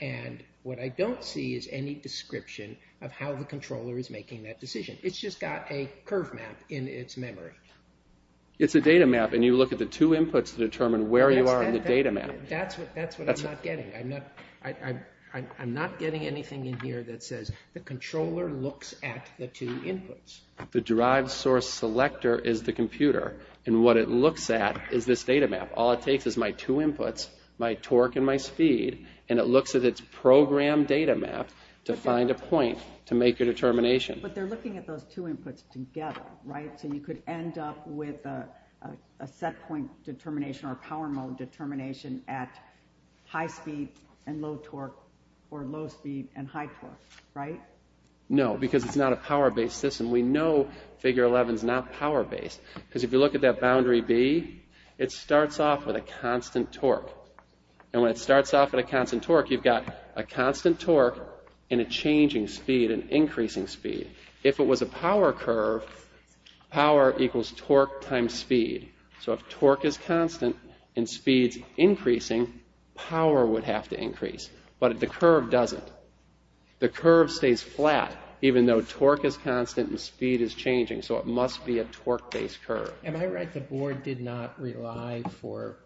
And what I don't see is any description of how the controller is making that decision. It's just got a curve map in its memory. It's a data map, and you look at the two inputs to determine where you are in the data map. That's what I'm not getting. I'm not getting anything in here that says the controller looks at the two inputs. The drive source selector is the computer, and what it looks at is this data map. All it takes is my two inputs, my torque and my speed, and it looks at its programmed data map to find a point to make a determination. But they're looking at those two inputs together, right? So you could end up with a setpoint determination or a power mode determination at high speed and low torque, or low speed and high torque, right? No, because it's not a power-based system. We know figure 11 is not power-based, because if you look at that boundary B, it starts off with a constant torque. And when it starts off with a constant torque, you've got a constant torque and a changing speed, an increasing speed. If it was a power curve, power equals torque times speed. So if torque is constant and speed is increasing, power would have to increase, but the curve doesn't. The curve stays flat even though torque is constant and speed is changing, so it must be a torque-based curve. Am I right the board did not rely for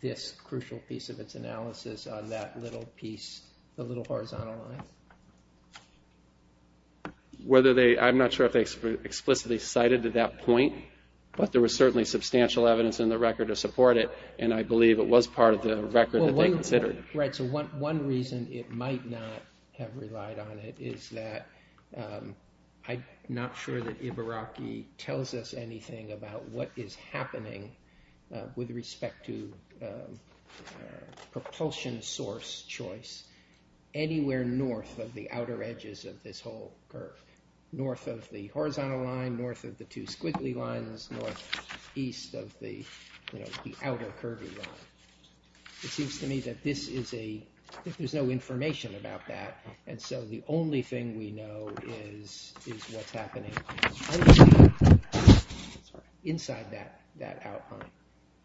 this crucial piece of its analysis on that little piece, the little horizontal line? I'm not sure if they explicitly cited to that point, but there was certainly substantial evidence in the record to support it, and I believe it was part of the record that they considered. Right, so one reason it might not have relied on it is that I'm not sure that Ibaraki tells us anything about what is happening with respect to propulsion source choice anywhere north of the outer edges of this whole curve, north of the horizontal line, north of the two squiggly lines, north east of the outer curvy line. It seems to me that there's no information about that, and so the only thing we know is what's happening inside that outline.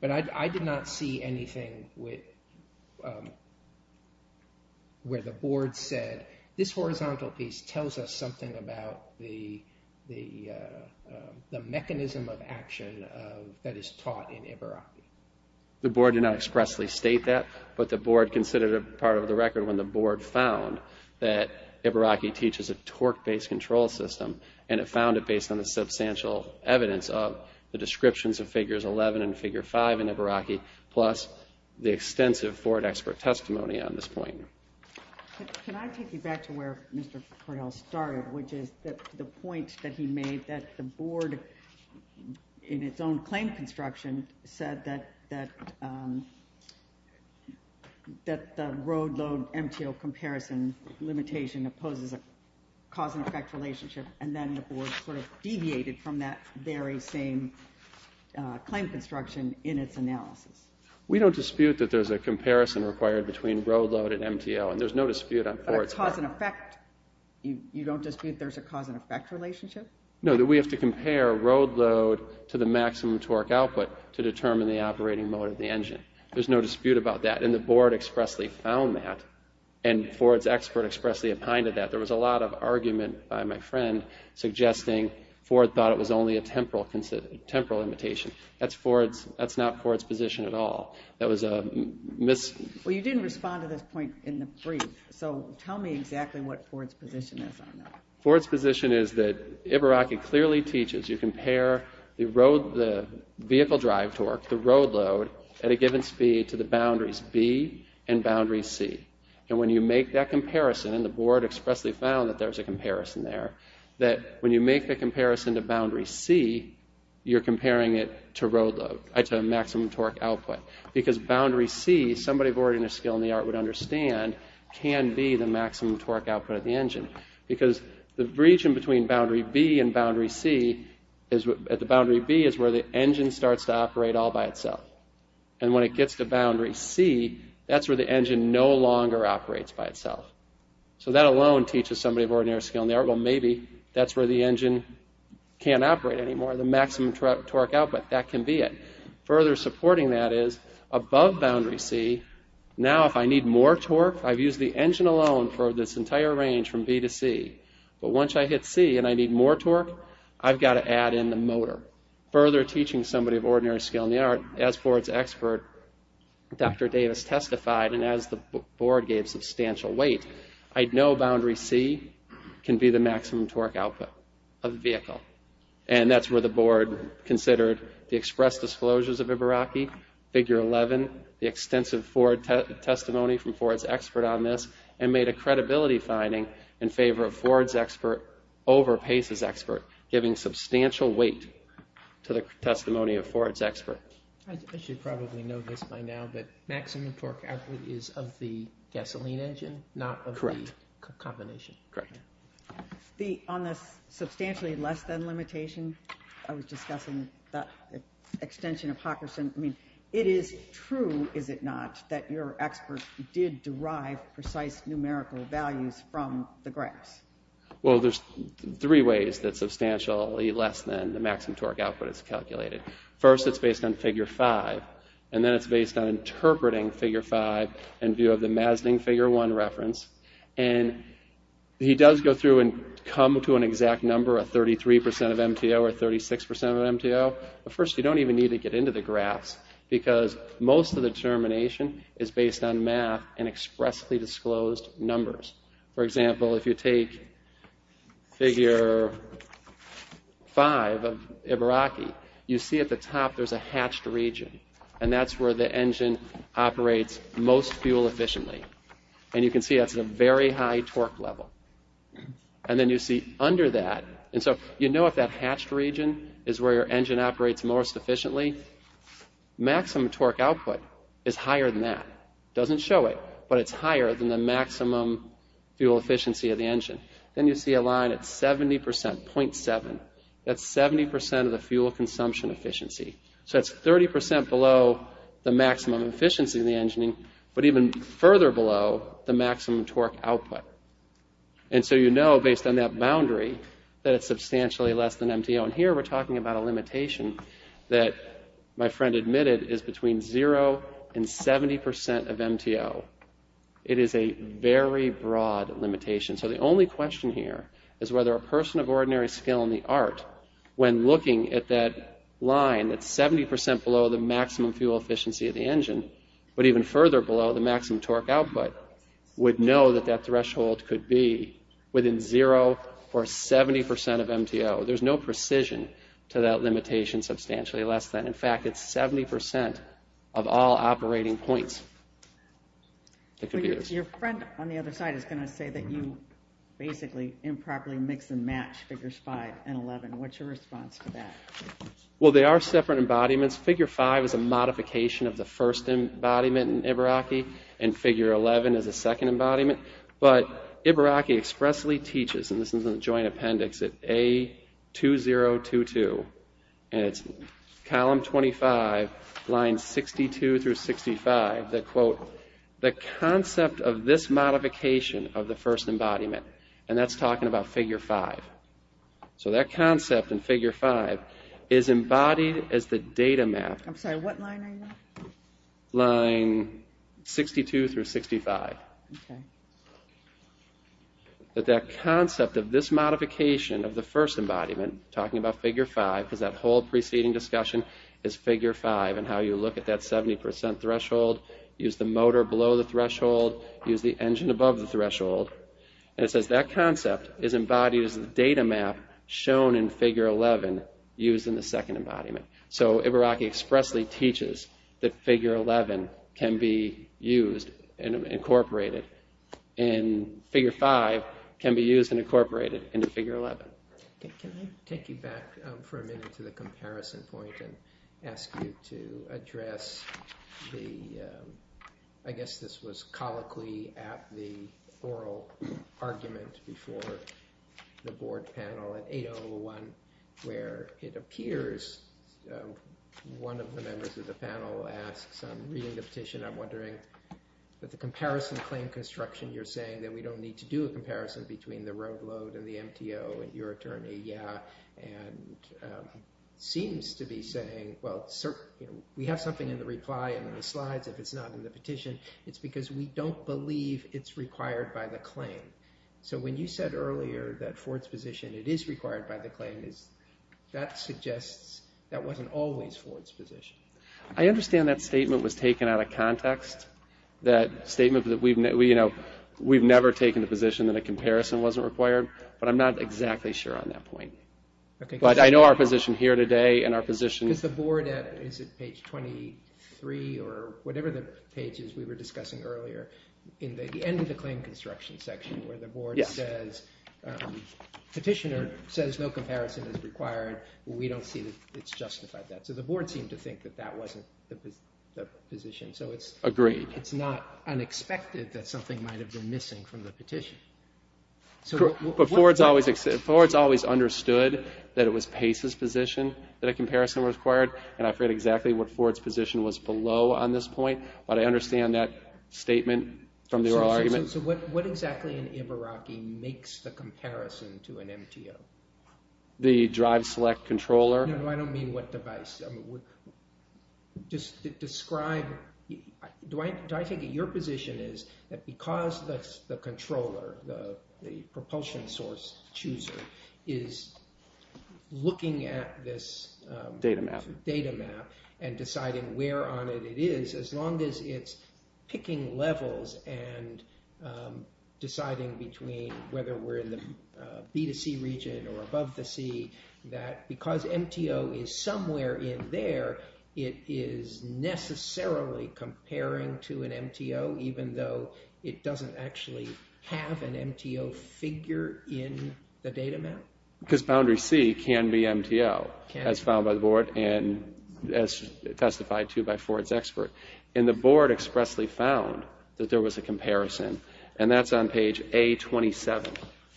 But I did not see anything where the board said, this horizontal piece tells us something about the mechanism of action that is taught in Ibaraki. The board did not expressly state that, but the board considered it part of the record when the board found that Ibaraki teaches a torque-based control system, and it found it based on the substantial evidence of the descriptions of figures 11 and figure 5 in Ibaraki, plus the extensive Ford expert testimony on this point. Can I take you back to where Mr. Cordell started, which is the point that he made that the board, in its own claim construction, said that the road load MTO comparison limitation opposes a cause and effect relationship, and then the board sort of deviated from that very same claim construction in its analysis. We don't dispute that there's a comparison required between road load and MTO, and there's no dispute on Ford's part. But a cause and effect, you don't dispute there's a cause and effect relationship? No, that we have to compare road load to the maximum torque output to determine the operating mode of the engine. There's no dispute about that, and the board expressly found that, and Ford's expert expressly opined to that. There was a lot of argument by my friend suggesting Ford thought it was only a temporal limitation. That's not Ford's position at all. That was a mis- Well, you didn't respond to this point in the brief, so tell me exactly what Ford's position is on that. Ford's position is that Ibaraki clearly teaches you compare the vehicle drive torque, the road load, at a given speed to the boundaries B and boundary C. And when you make that comparison, and the board expressly found that there's a comparison there, that when you make the comparison to boundary C, you're comparing it to road load, to maximum torque output. Because boundary C, somebody of ordinary skill in the art would understand, can be the maximum torque output of the engine. Because the region between boundary B and boundary C, at the boundary B is where the engine starts to operate all by itself. And when it gets to boundary C, that's where the engine no longer operates by itself. So that alone teaches somebody of ordinary skill in the art, well, maybe that's where the engine can't operate anymore, the maximum torque output, that can be it. Further supporting that is, above boundary C, now if I need more torque, I've used the engine alone for this entire range from B to C. But once I hit C and I need more torque, I've got to add in the motor. Further teaching somebody of ordinary skill in the art, as Ford's expert, Dr. Davis testified, and as the board gave substantial weight, I know boundary C can be the maximum torque output of the vehicle. And that's where the board considered the express disclosures of Ibaraki, figure 11, the extensive Ford testimony from Ford's expert on this, and made a credibility finding in favor of Ford's expert over Pace's expert, giving substantial weight to the testimony of Ford's expert. I should probably know this by now, but maximum torque output is of the gasoline engine, not of the combination. Correct. On this substantially less than limitation, I was discussing the extension of Hockerson. I mean, it is true, is it not, that your expert did derive precise numerical values from the graphs? Well, there's three ways that substantially less than the maximum torque output is calculated. First, it's based on figure 5, and then it's based on interpreting figure 5 in view of the Mazding figure 1 reference. And he does go through and come to an exact number, a 33% of MTO or a 36% of MTO. But first, you don't even need to get into the graphs because most of the determination is based on math and expressly disclosed numbers. For example, if you take figure 5 of Ibaraki, you see at the top there's a hatched region, and that's where the engine operates most fuel efficiently. And you can see that's at a very high torque level. And then you see under that, and so you know if that hatched region is where your engine operates most efficiently. Maximum torque output is higher than that. It doesn't show it, but it's higher than the maximum fuel efficiency of the engine. Then you see a line at 70%, 0.7. That's 70% of the fuel consumption efficiency. So that's 30% below the maximum efficiency of the engine, but even further below the maximum torque output. And so you know based on that boundary that it's substantially less than MTO. And here we're talking about a limitation that my friend admitted is between 0 and 70% of MTO. It is a very broad limitation. So the only question here is whether a person of ordinary skill in the art, the maximum fuel efficiency of the engine, but even further below the maximum torque output, would know that that threshold could be within 0 or 70% of MTO. There's no precision to that limitation substantially less than. In fact, it's 70% of all operating points. Your friend on the other side is going to say that you basically improperly mix and match figures 5 and 11. What's your response to that? Well, they are separate embodiments. Figure 5 is a modification of the first embodiment in Ibaraki, and figure 11 is a second embodiment. But Ibaraki expressly teaches, and this is in the joint appendix, at A2022, and it's column 25, lines 62 through 65, that, quote, the concept of this modification of the first embodiment, and that's talking about figure 5. So that concept in figure 5 is embodied as the data map. I'm sorry, what line are you on? Line 62 through 65. That that concept of this modification of the first embodiment, talking about figure 5, because that whole preceding discussion is figure 5, and how you look at that 70% threshold, and it says that concept is embodied as the data map shown in figure 11 used in the second embodiment. So Ibaraki expressly teaches that figure 11 can be used and incorporated, and figure 5 can be used and incorporated into figure 11. Can I take you back for a minute to the comparison point and ask you to address the, I guess this was colloquially at the oral argument before the board panel at 801, where it appears one of the members of the panel asks, I'm reading the petition, I'm wondering, that the comparison claim construction you're saying, that we don't need to do a comparison between the road load and the MTO and your attorney, yeah, and seems to be saying, well, we have something in the reply and the slides, if it's not in the petition, it's because we don't believe it's required by the claim. So when you said earlier that Ford's position, it is required by the claim, that suggests that wasn't always Ford's position. I understand that statement was taken out of context, that statement that we've never taken the position that a comparison wasn't required, but I'm not exactly sure on that point. But I know our position here today and our position. Because the board, is it page 23 or whatever the page is we were discussing earlier, in the end of the claim construction section where the board says, petitioner says no comparison is required, we don't see that it's justified that. So the board seemed to think that that wasn't the position. Agreed. So it's not unexpected that something might have been missing from the petition. But Ford's always understood that it was Pace's position that a comparison was required, and I forget exactly what Ford's position was below on this point, but I understand that statement from the oral argument. So what exactly in Ibaraki makes the comparison to an MTO? The drive select controller? No, I don't mean what device. Just describe, do I take it your position is that because the controller, the propulsion source chooser, is looking at this data map and deciding where on it it is, as long as it's picking levels and deciding between whether we're in the B2C region or above the sea, that because MTO is somewhere in there, it is necessarily comparing to an MTO, even though it doesn't actually have an MTO figure in the data map? Because boundary C can be MTO, as found by the board and as testified to by Ford's expert. And the board expressly found that there was a comparison, and that's on page A27.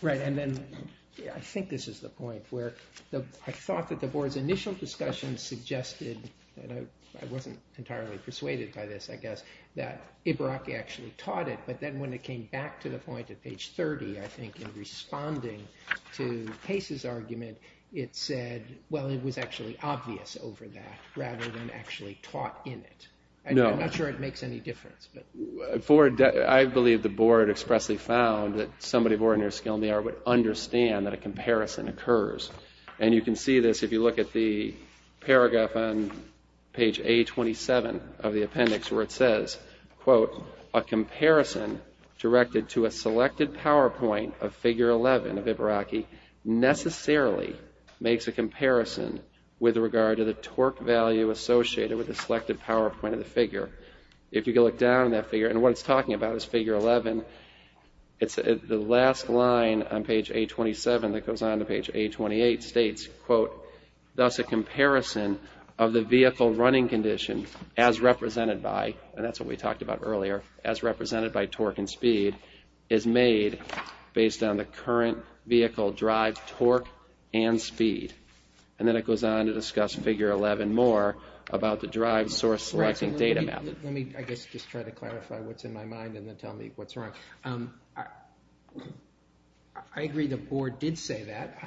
Right, and then I think this is the point where I thought that the board's initial discussion suggested, and I wasn't entirely persuaded by this, I guess, that Ibaraki actually taught it, but then when it came back to the point at page 30, I think, in responding to Pace's argument, it said, well, it was actually obvious over that rather than actually taught in it. I'm not sure it makes any difference. Ford, I believe the board expressly found that somebody of ordinary skill in the art would understand that a comparison occurs. And you can see this if you look at the paragraph on page A27 of the appendix, where it says, quote, a comparison directed to a selected PowerPoint of figure 11 of Ibaraki necessarily makes a comparison with regard to the torque value associated with the selected PowerPoint of the figure. If you go look down in that figure, and what it's talking about is figure 11, the last line on page A27 that goes on to page A28 states, quote, thus a comparison of the vehicle running condition as represented by, and that's what we talked about earlier, as represented by torque and speed is made based on the current vehicle drive torque and speed. And then it goes on to discuss figure 11 more about the drive source-selecting data method. Let me, I guess, just try to clarify what's in my mind and then tell me what's wrong. I agree the board did say that.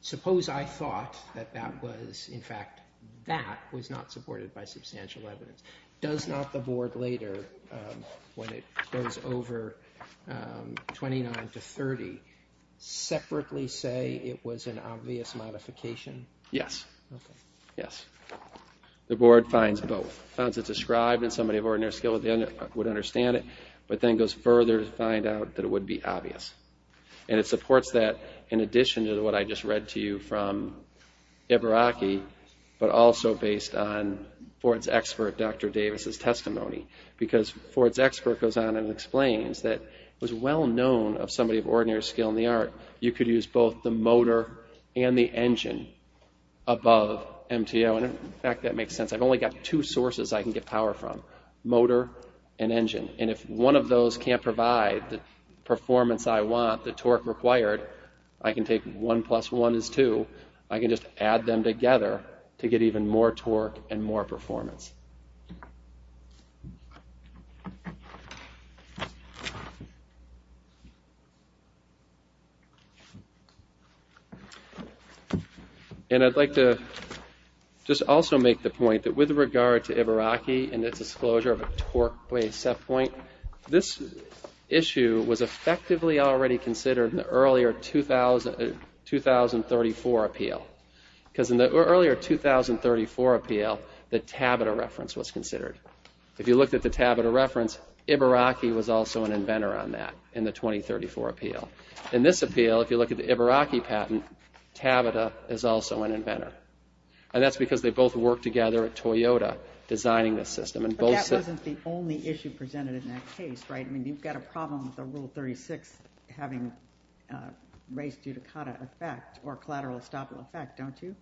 Suppose I thought that that was, in fact, that was not supported by substantial evidence. Does not the board later, when it goes over 29 to 30, separately say it was an obvious modification? Yes. Okay. Yes. The board finds both. It finds it described and somebody of ordinary skill would understand it, but then goes further to find out that it would be obvious. And it supports that in addition to what I just read to you from Ibaraki, but also based on Ford's expert, Dr. Davis' testimony. Because Ford's expert goes on and explains that it was well-known of somebody of ordinary skill in the art, you could use both the motor and the engine above MTO. And, in fact, that makes sense. I've only got two sources I can get power from, motor and engine. And if one of those can't provide the performance I want, the torque required, I can take 1 plus 1 is 2. I can just add them together to get even more torque and more performance. And I'd like to just also make the point that with regard to Ibaraki and its disclosure of a torque-based set point, this issue was effectively already considered in the earlier 2034 appeal. Because in the earlier 2034 appeal, the Tabita reference was considered. If you looked at the Tabita reference, Ibaraki was also an inventor on that in the 2034 appeal. In this appeal, if you look at the Ibaraki patent, Tabita is also an inventor. And that's because they both worked together at Toyota designing the system. But that wasn't the only issue presented in that case, right? I mean, you've got a problem with the Rule 36 having a race-dudicata effect or collateral estoppel effect, don't you?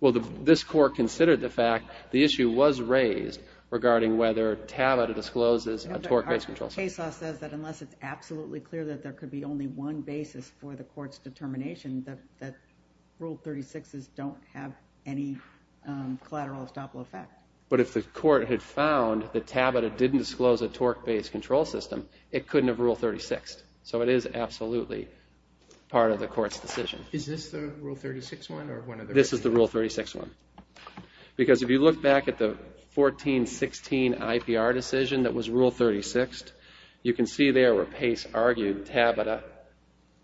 Well, this court considered the fact the issue was raised regarding whether Tabita discloses a torque-based control set point. Our case law says that unless it's absolutely clear that there could be only one basis for the court's determination, that Rule 36s don't have any collateral estoppel effect. But if the court had found that Tabita didn't disclose a torque-based control system, it couldn't have Rule 36ed. So it is absolutely part of the court's decision. Is this the Rule 36 one? This is the Rule 36 one. Because if you look back at the 1416 IPR decision that was Rule 36ed, you can see there where Pace argued Tabita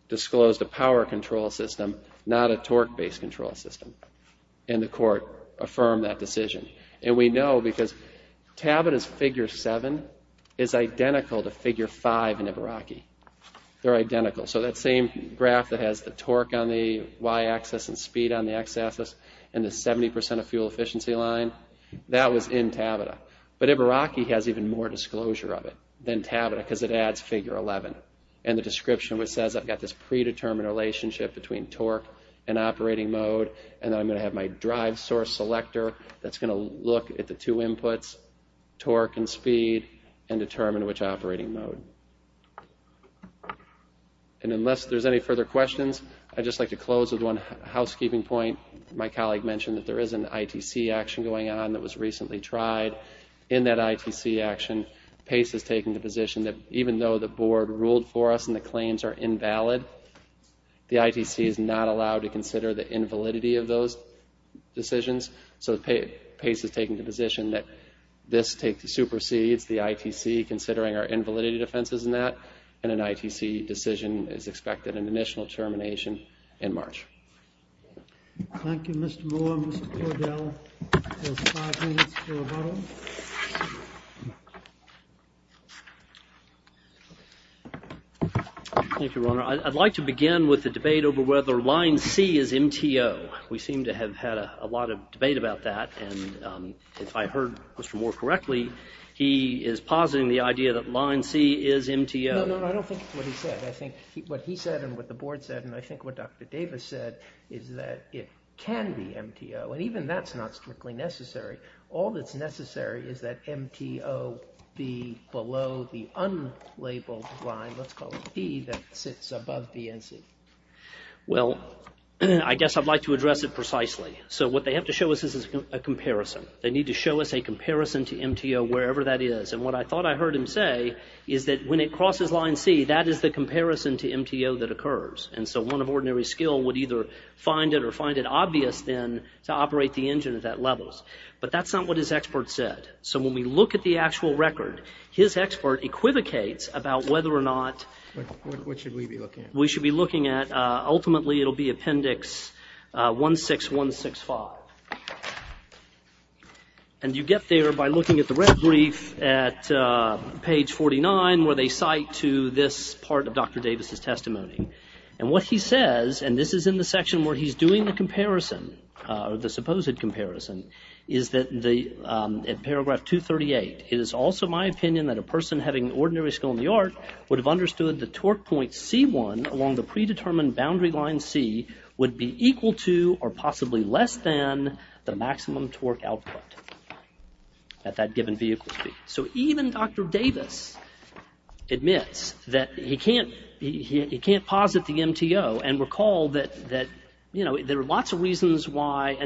disclosed a power control system, not a torque-based control system. And the court affirmed that decision. And we know because Tabita's Figure 7 is identical to Figure 5 in Ibaraki. They're identical. So that same graph that has the torque on the y-axis and speed on the x-axis and the 70% of fuel efficiency line, that was in Tabita. But Ibaraki has even more disclosure of it than Tabita because it adds Figure 11. And the description says I've got this predetermined relationship between torque and operating mode, and I'm going to have my drive source selector that's going to look at the two inputs, torque and speed, and determine which operating mode. And unless there's any further questions, I'd just like to close with one housekeeping point. My colleague mentioned that there is an ITC action going on that was recently tried. In that ITC action, Pace has taken the position that even though the board ruled for us and the claims are invalid, the ITC is not allowed to consider the invalidity of those decisions. So Pace has taken the position that this supersedes the ITC, considering our invalidity defenses in that, and an ITC decision is expected in the initial termination in March. Thank you, Mr. Moore. Mr. Cordell has five minutes for rebuttal. Thank you, Your Honor. I'd like to begin with the debate over whether line C is MTO. We seem to have had a lot of debate about that, and if I heard Mr. Moore correctly, he is positing the idea that line C is MTO. No, no, I don't think it's what he said. I think what he said and what the board said and I think what Dr. Davis said is that it can be MTO, and even that's not strictly necessary. All that's necessary is that MTO be below the unlabeled line, let's call it D, that sits above B and C. Well, I guess I'd like to address it precisely. So what they have to show us is a comparison. They need to show us a comparison to MTO wherever that is, and what I thought I heard him say is that when it crosses line C, that is the comparison to MTO that occurs, and so one of ordinary skill would either find it or find it obvious then to operate the engine at that level, but that's not what his expert said. So when we look at the actual record, his expert equivocates about whether or not we should be looking at. Ultimately, it'll be Appendix 16165, and you get there by looking at the red brief at page 49 where they cite to this part of Dr. Davis' testimony, and what he says, and this is in the section where he's doing the comparison, the supposed comparison, is that at paragraph 238, it is also my opinion that a person having ordinary skill in the art would have understood the torque point C1 along the predetermined boundary line C would be equal to or possibly less than the maximum torque output at that given vehicle speed. So even Dr. Davis admits that he can't posit the MTO, and recall that there are lots of reasons why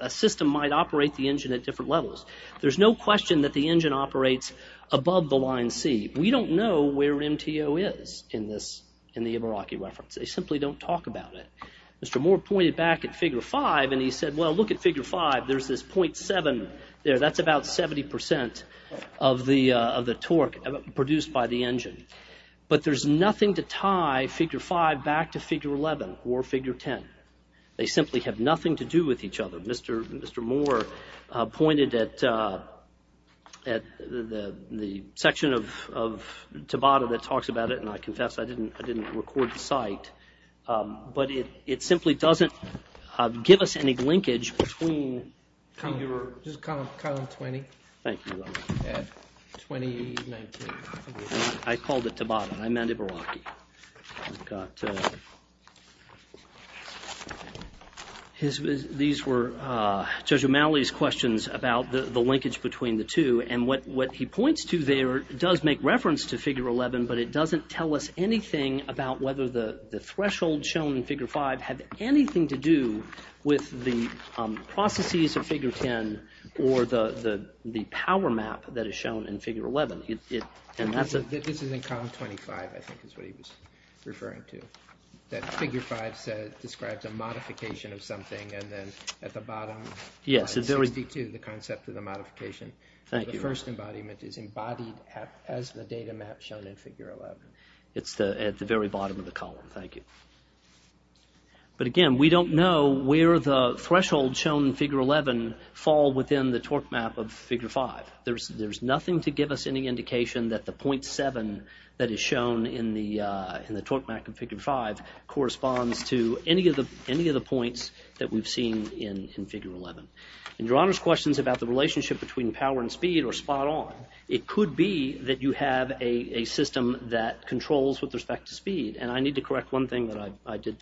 a system might operate the engine at different levels. There's no question that the engine operates above the line C. We don't know where MTO is in the Ibaraki reference. They simply don't talk about it. Mr. Moore pointed back at Figure 5, and he said, well, look at Figure 5. There's this .7 there. That's about 70% of the torque produced by the engine, but there's nothing to tie Figure 5 back to Figure 11 or Figure 10. They simply have nothing to do with each other. Mr. Moore pointed at the section of Tabata that talks about it, and I confess I didn't record the site, but it simply doesn't give us any linkage between... Just column 20. Thank you. At 20, 19. I called it Tabata. I meant Ibaraki. We've got... These were Judge O'Malley's questions about the linkage between the two, and what he points to there does make reference to Figure 11, but it doesn't tell us anything about whether the threshold shown in Figure 5 had anything to do with the processes of Figure 10 or the power map that is shown in Figure 11. This is in column 25, I think, is what he was referring to, that Figure 5 describes a modification of something, and then at the bottom, column 62, the concept of the modification. The first embodiment is embodied as the data map shown in Figure 11. It's at the very bottom of the column. Thank you. But again, we don't know where the threshold shown in Figure 11 fall within the torque map of Figure 5. There's nothing to give us any indication that the 0.7 that is shown in the torque map of Figure 5 corresponds to any of the points that we've seen in Figure 11. Your Honor's questions about the relationship between power and speed are spot on. It could be that you have a system that controls with respect to speed, and I need to correct one thing that I did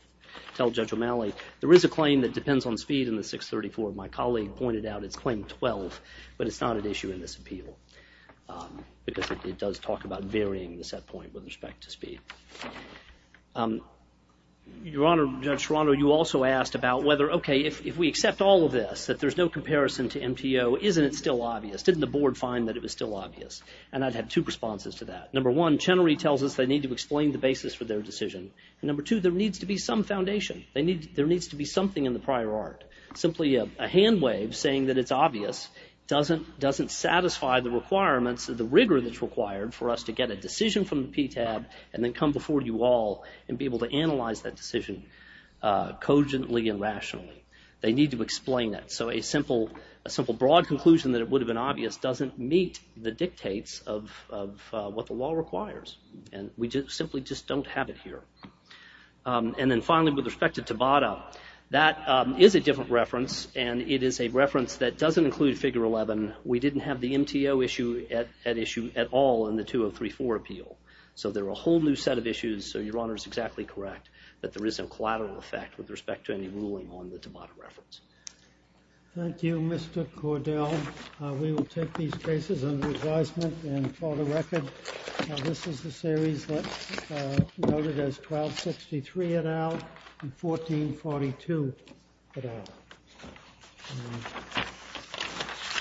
tell Judge O'Malley. There is a claim that depends on speed in the 634. My colleague pointed out it's claim 12, but it's not an issue in this appeal because it does talk about varying the set point with respect to speed. Your Honor, Judge Serrano, you also asked about whether, okay, if we accept all of this, that there's no comparison to MTO, isn't it still obvious? Didn't the Board find that it was still obvious? And I'd have two responses to that. Number one, Chenery tells us they need to explain the basis for their decision. And number two, there needs to be some foundation. There needs to be something in the prior art. Simply a hand wave saying that it's obvious doesn't satisfy the requirements or the rigor that's required for us to get a decision from the PTAB and then come before you all and be able to analyze that decision cogently and rationally. They need to explain that. So a simple broad conclusion that it would have been obvious doesn't meet the dictates of what the law requires, and we simply just don't have it here. And then finally, with respect to Tabata, that is a different reference, and it is a reference that doesn't include Figure 11. We didn't have the MTO issue at issue at all in the 2034 appeal. So they're a whole new set of issues, so Your Honor is exactly correct that there is a collateral effect with respect to any ruling on the Tabata reference. Thank you, Mr. Cordell. We will take these cases under advisement and file the record. This is the series noted as 1263 et al. and 1442 et al.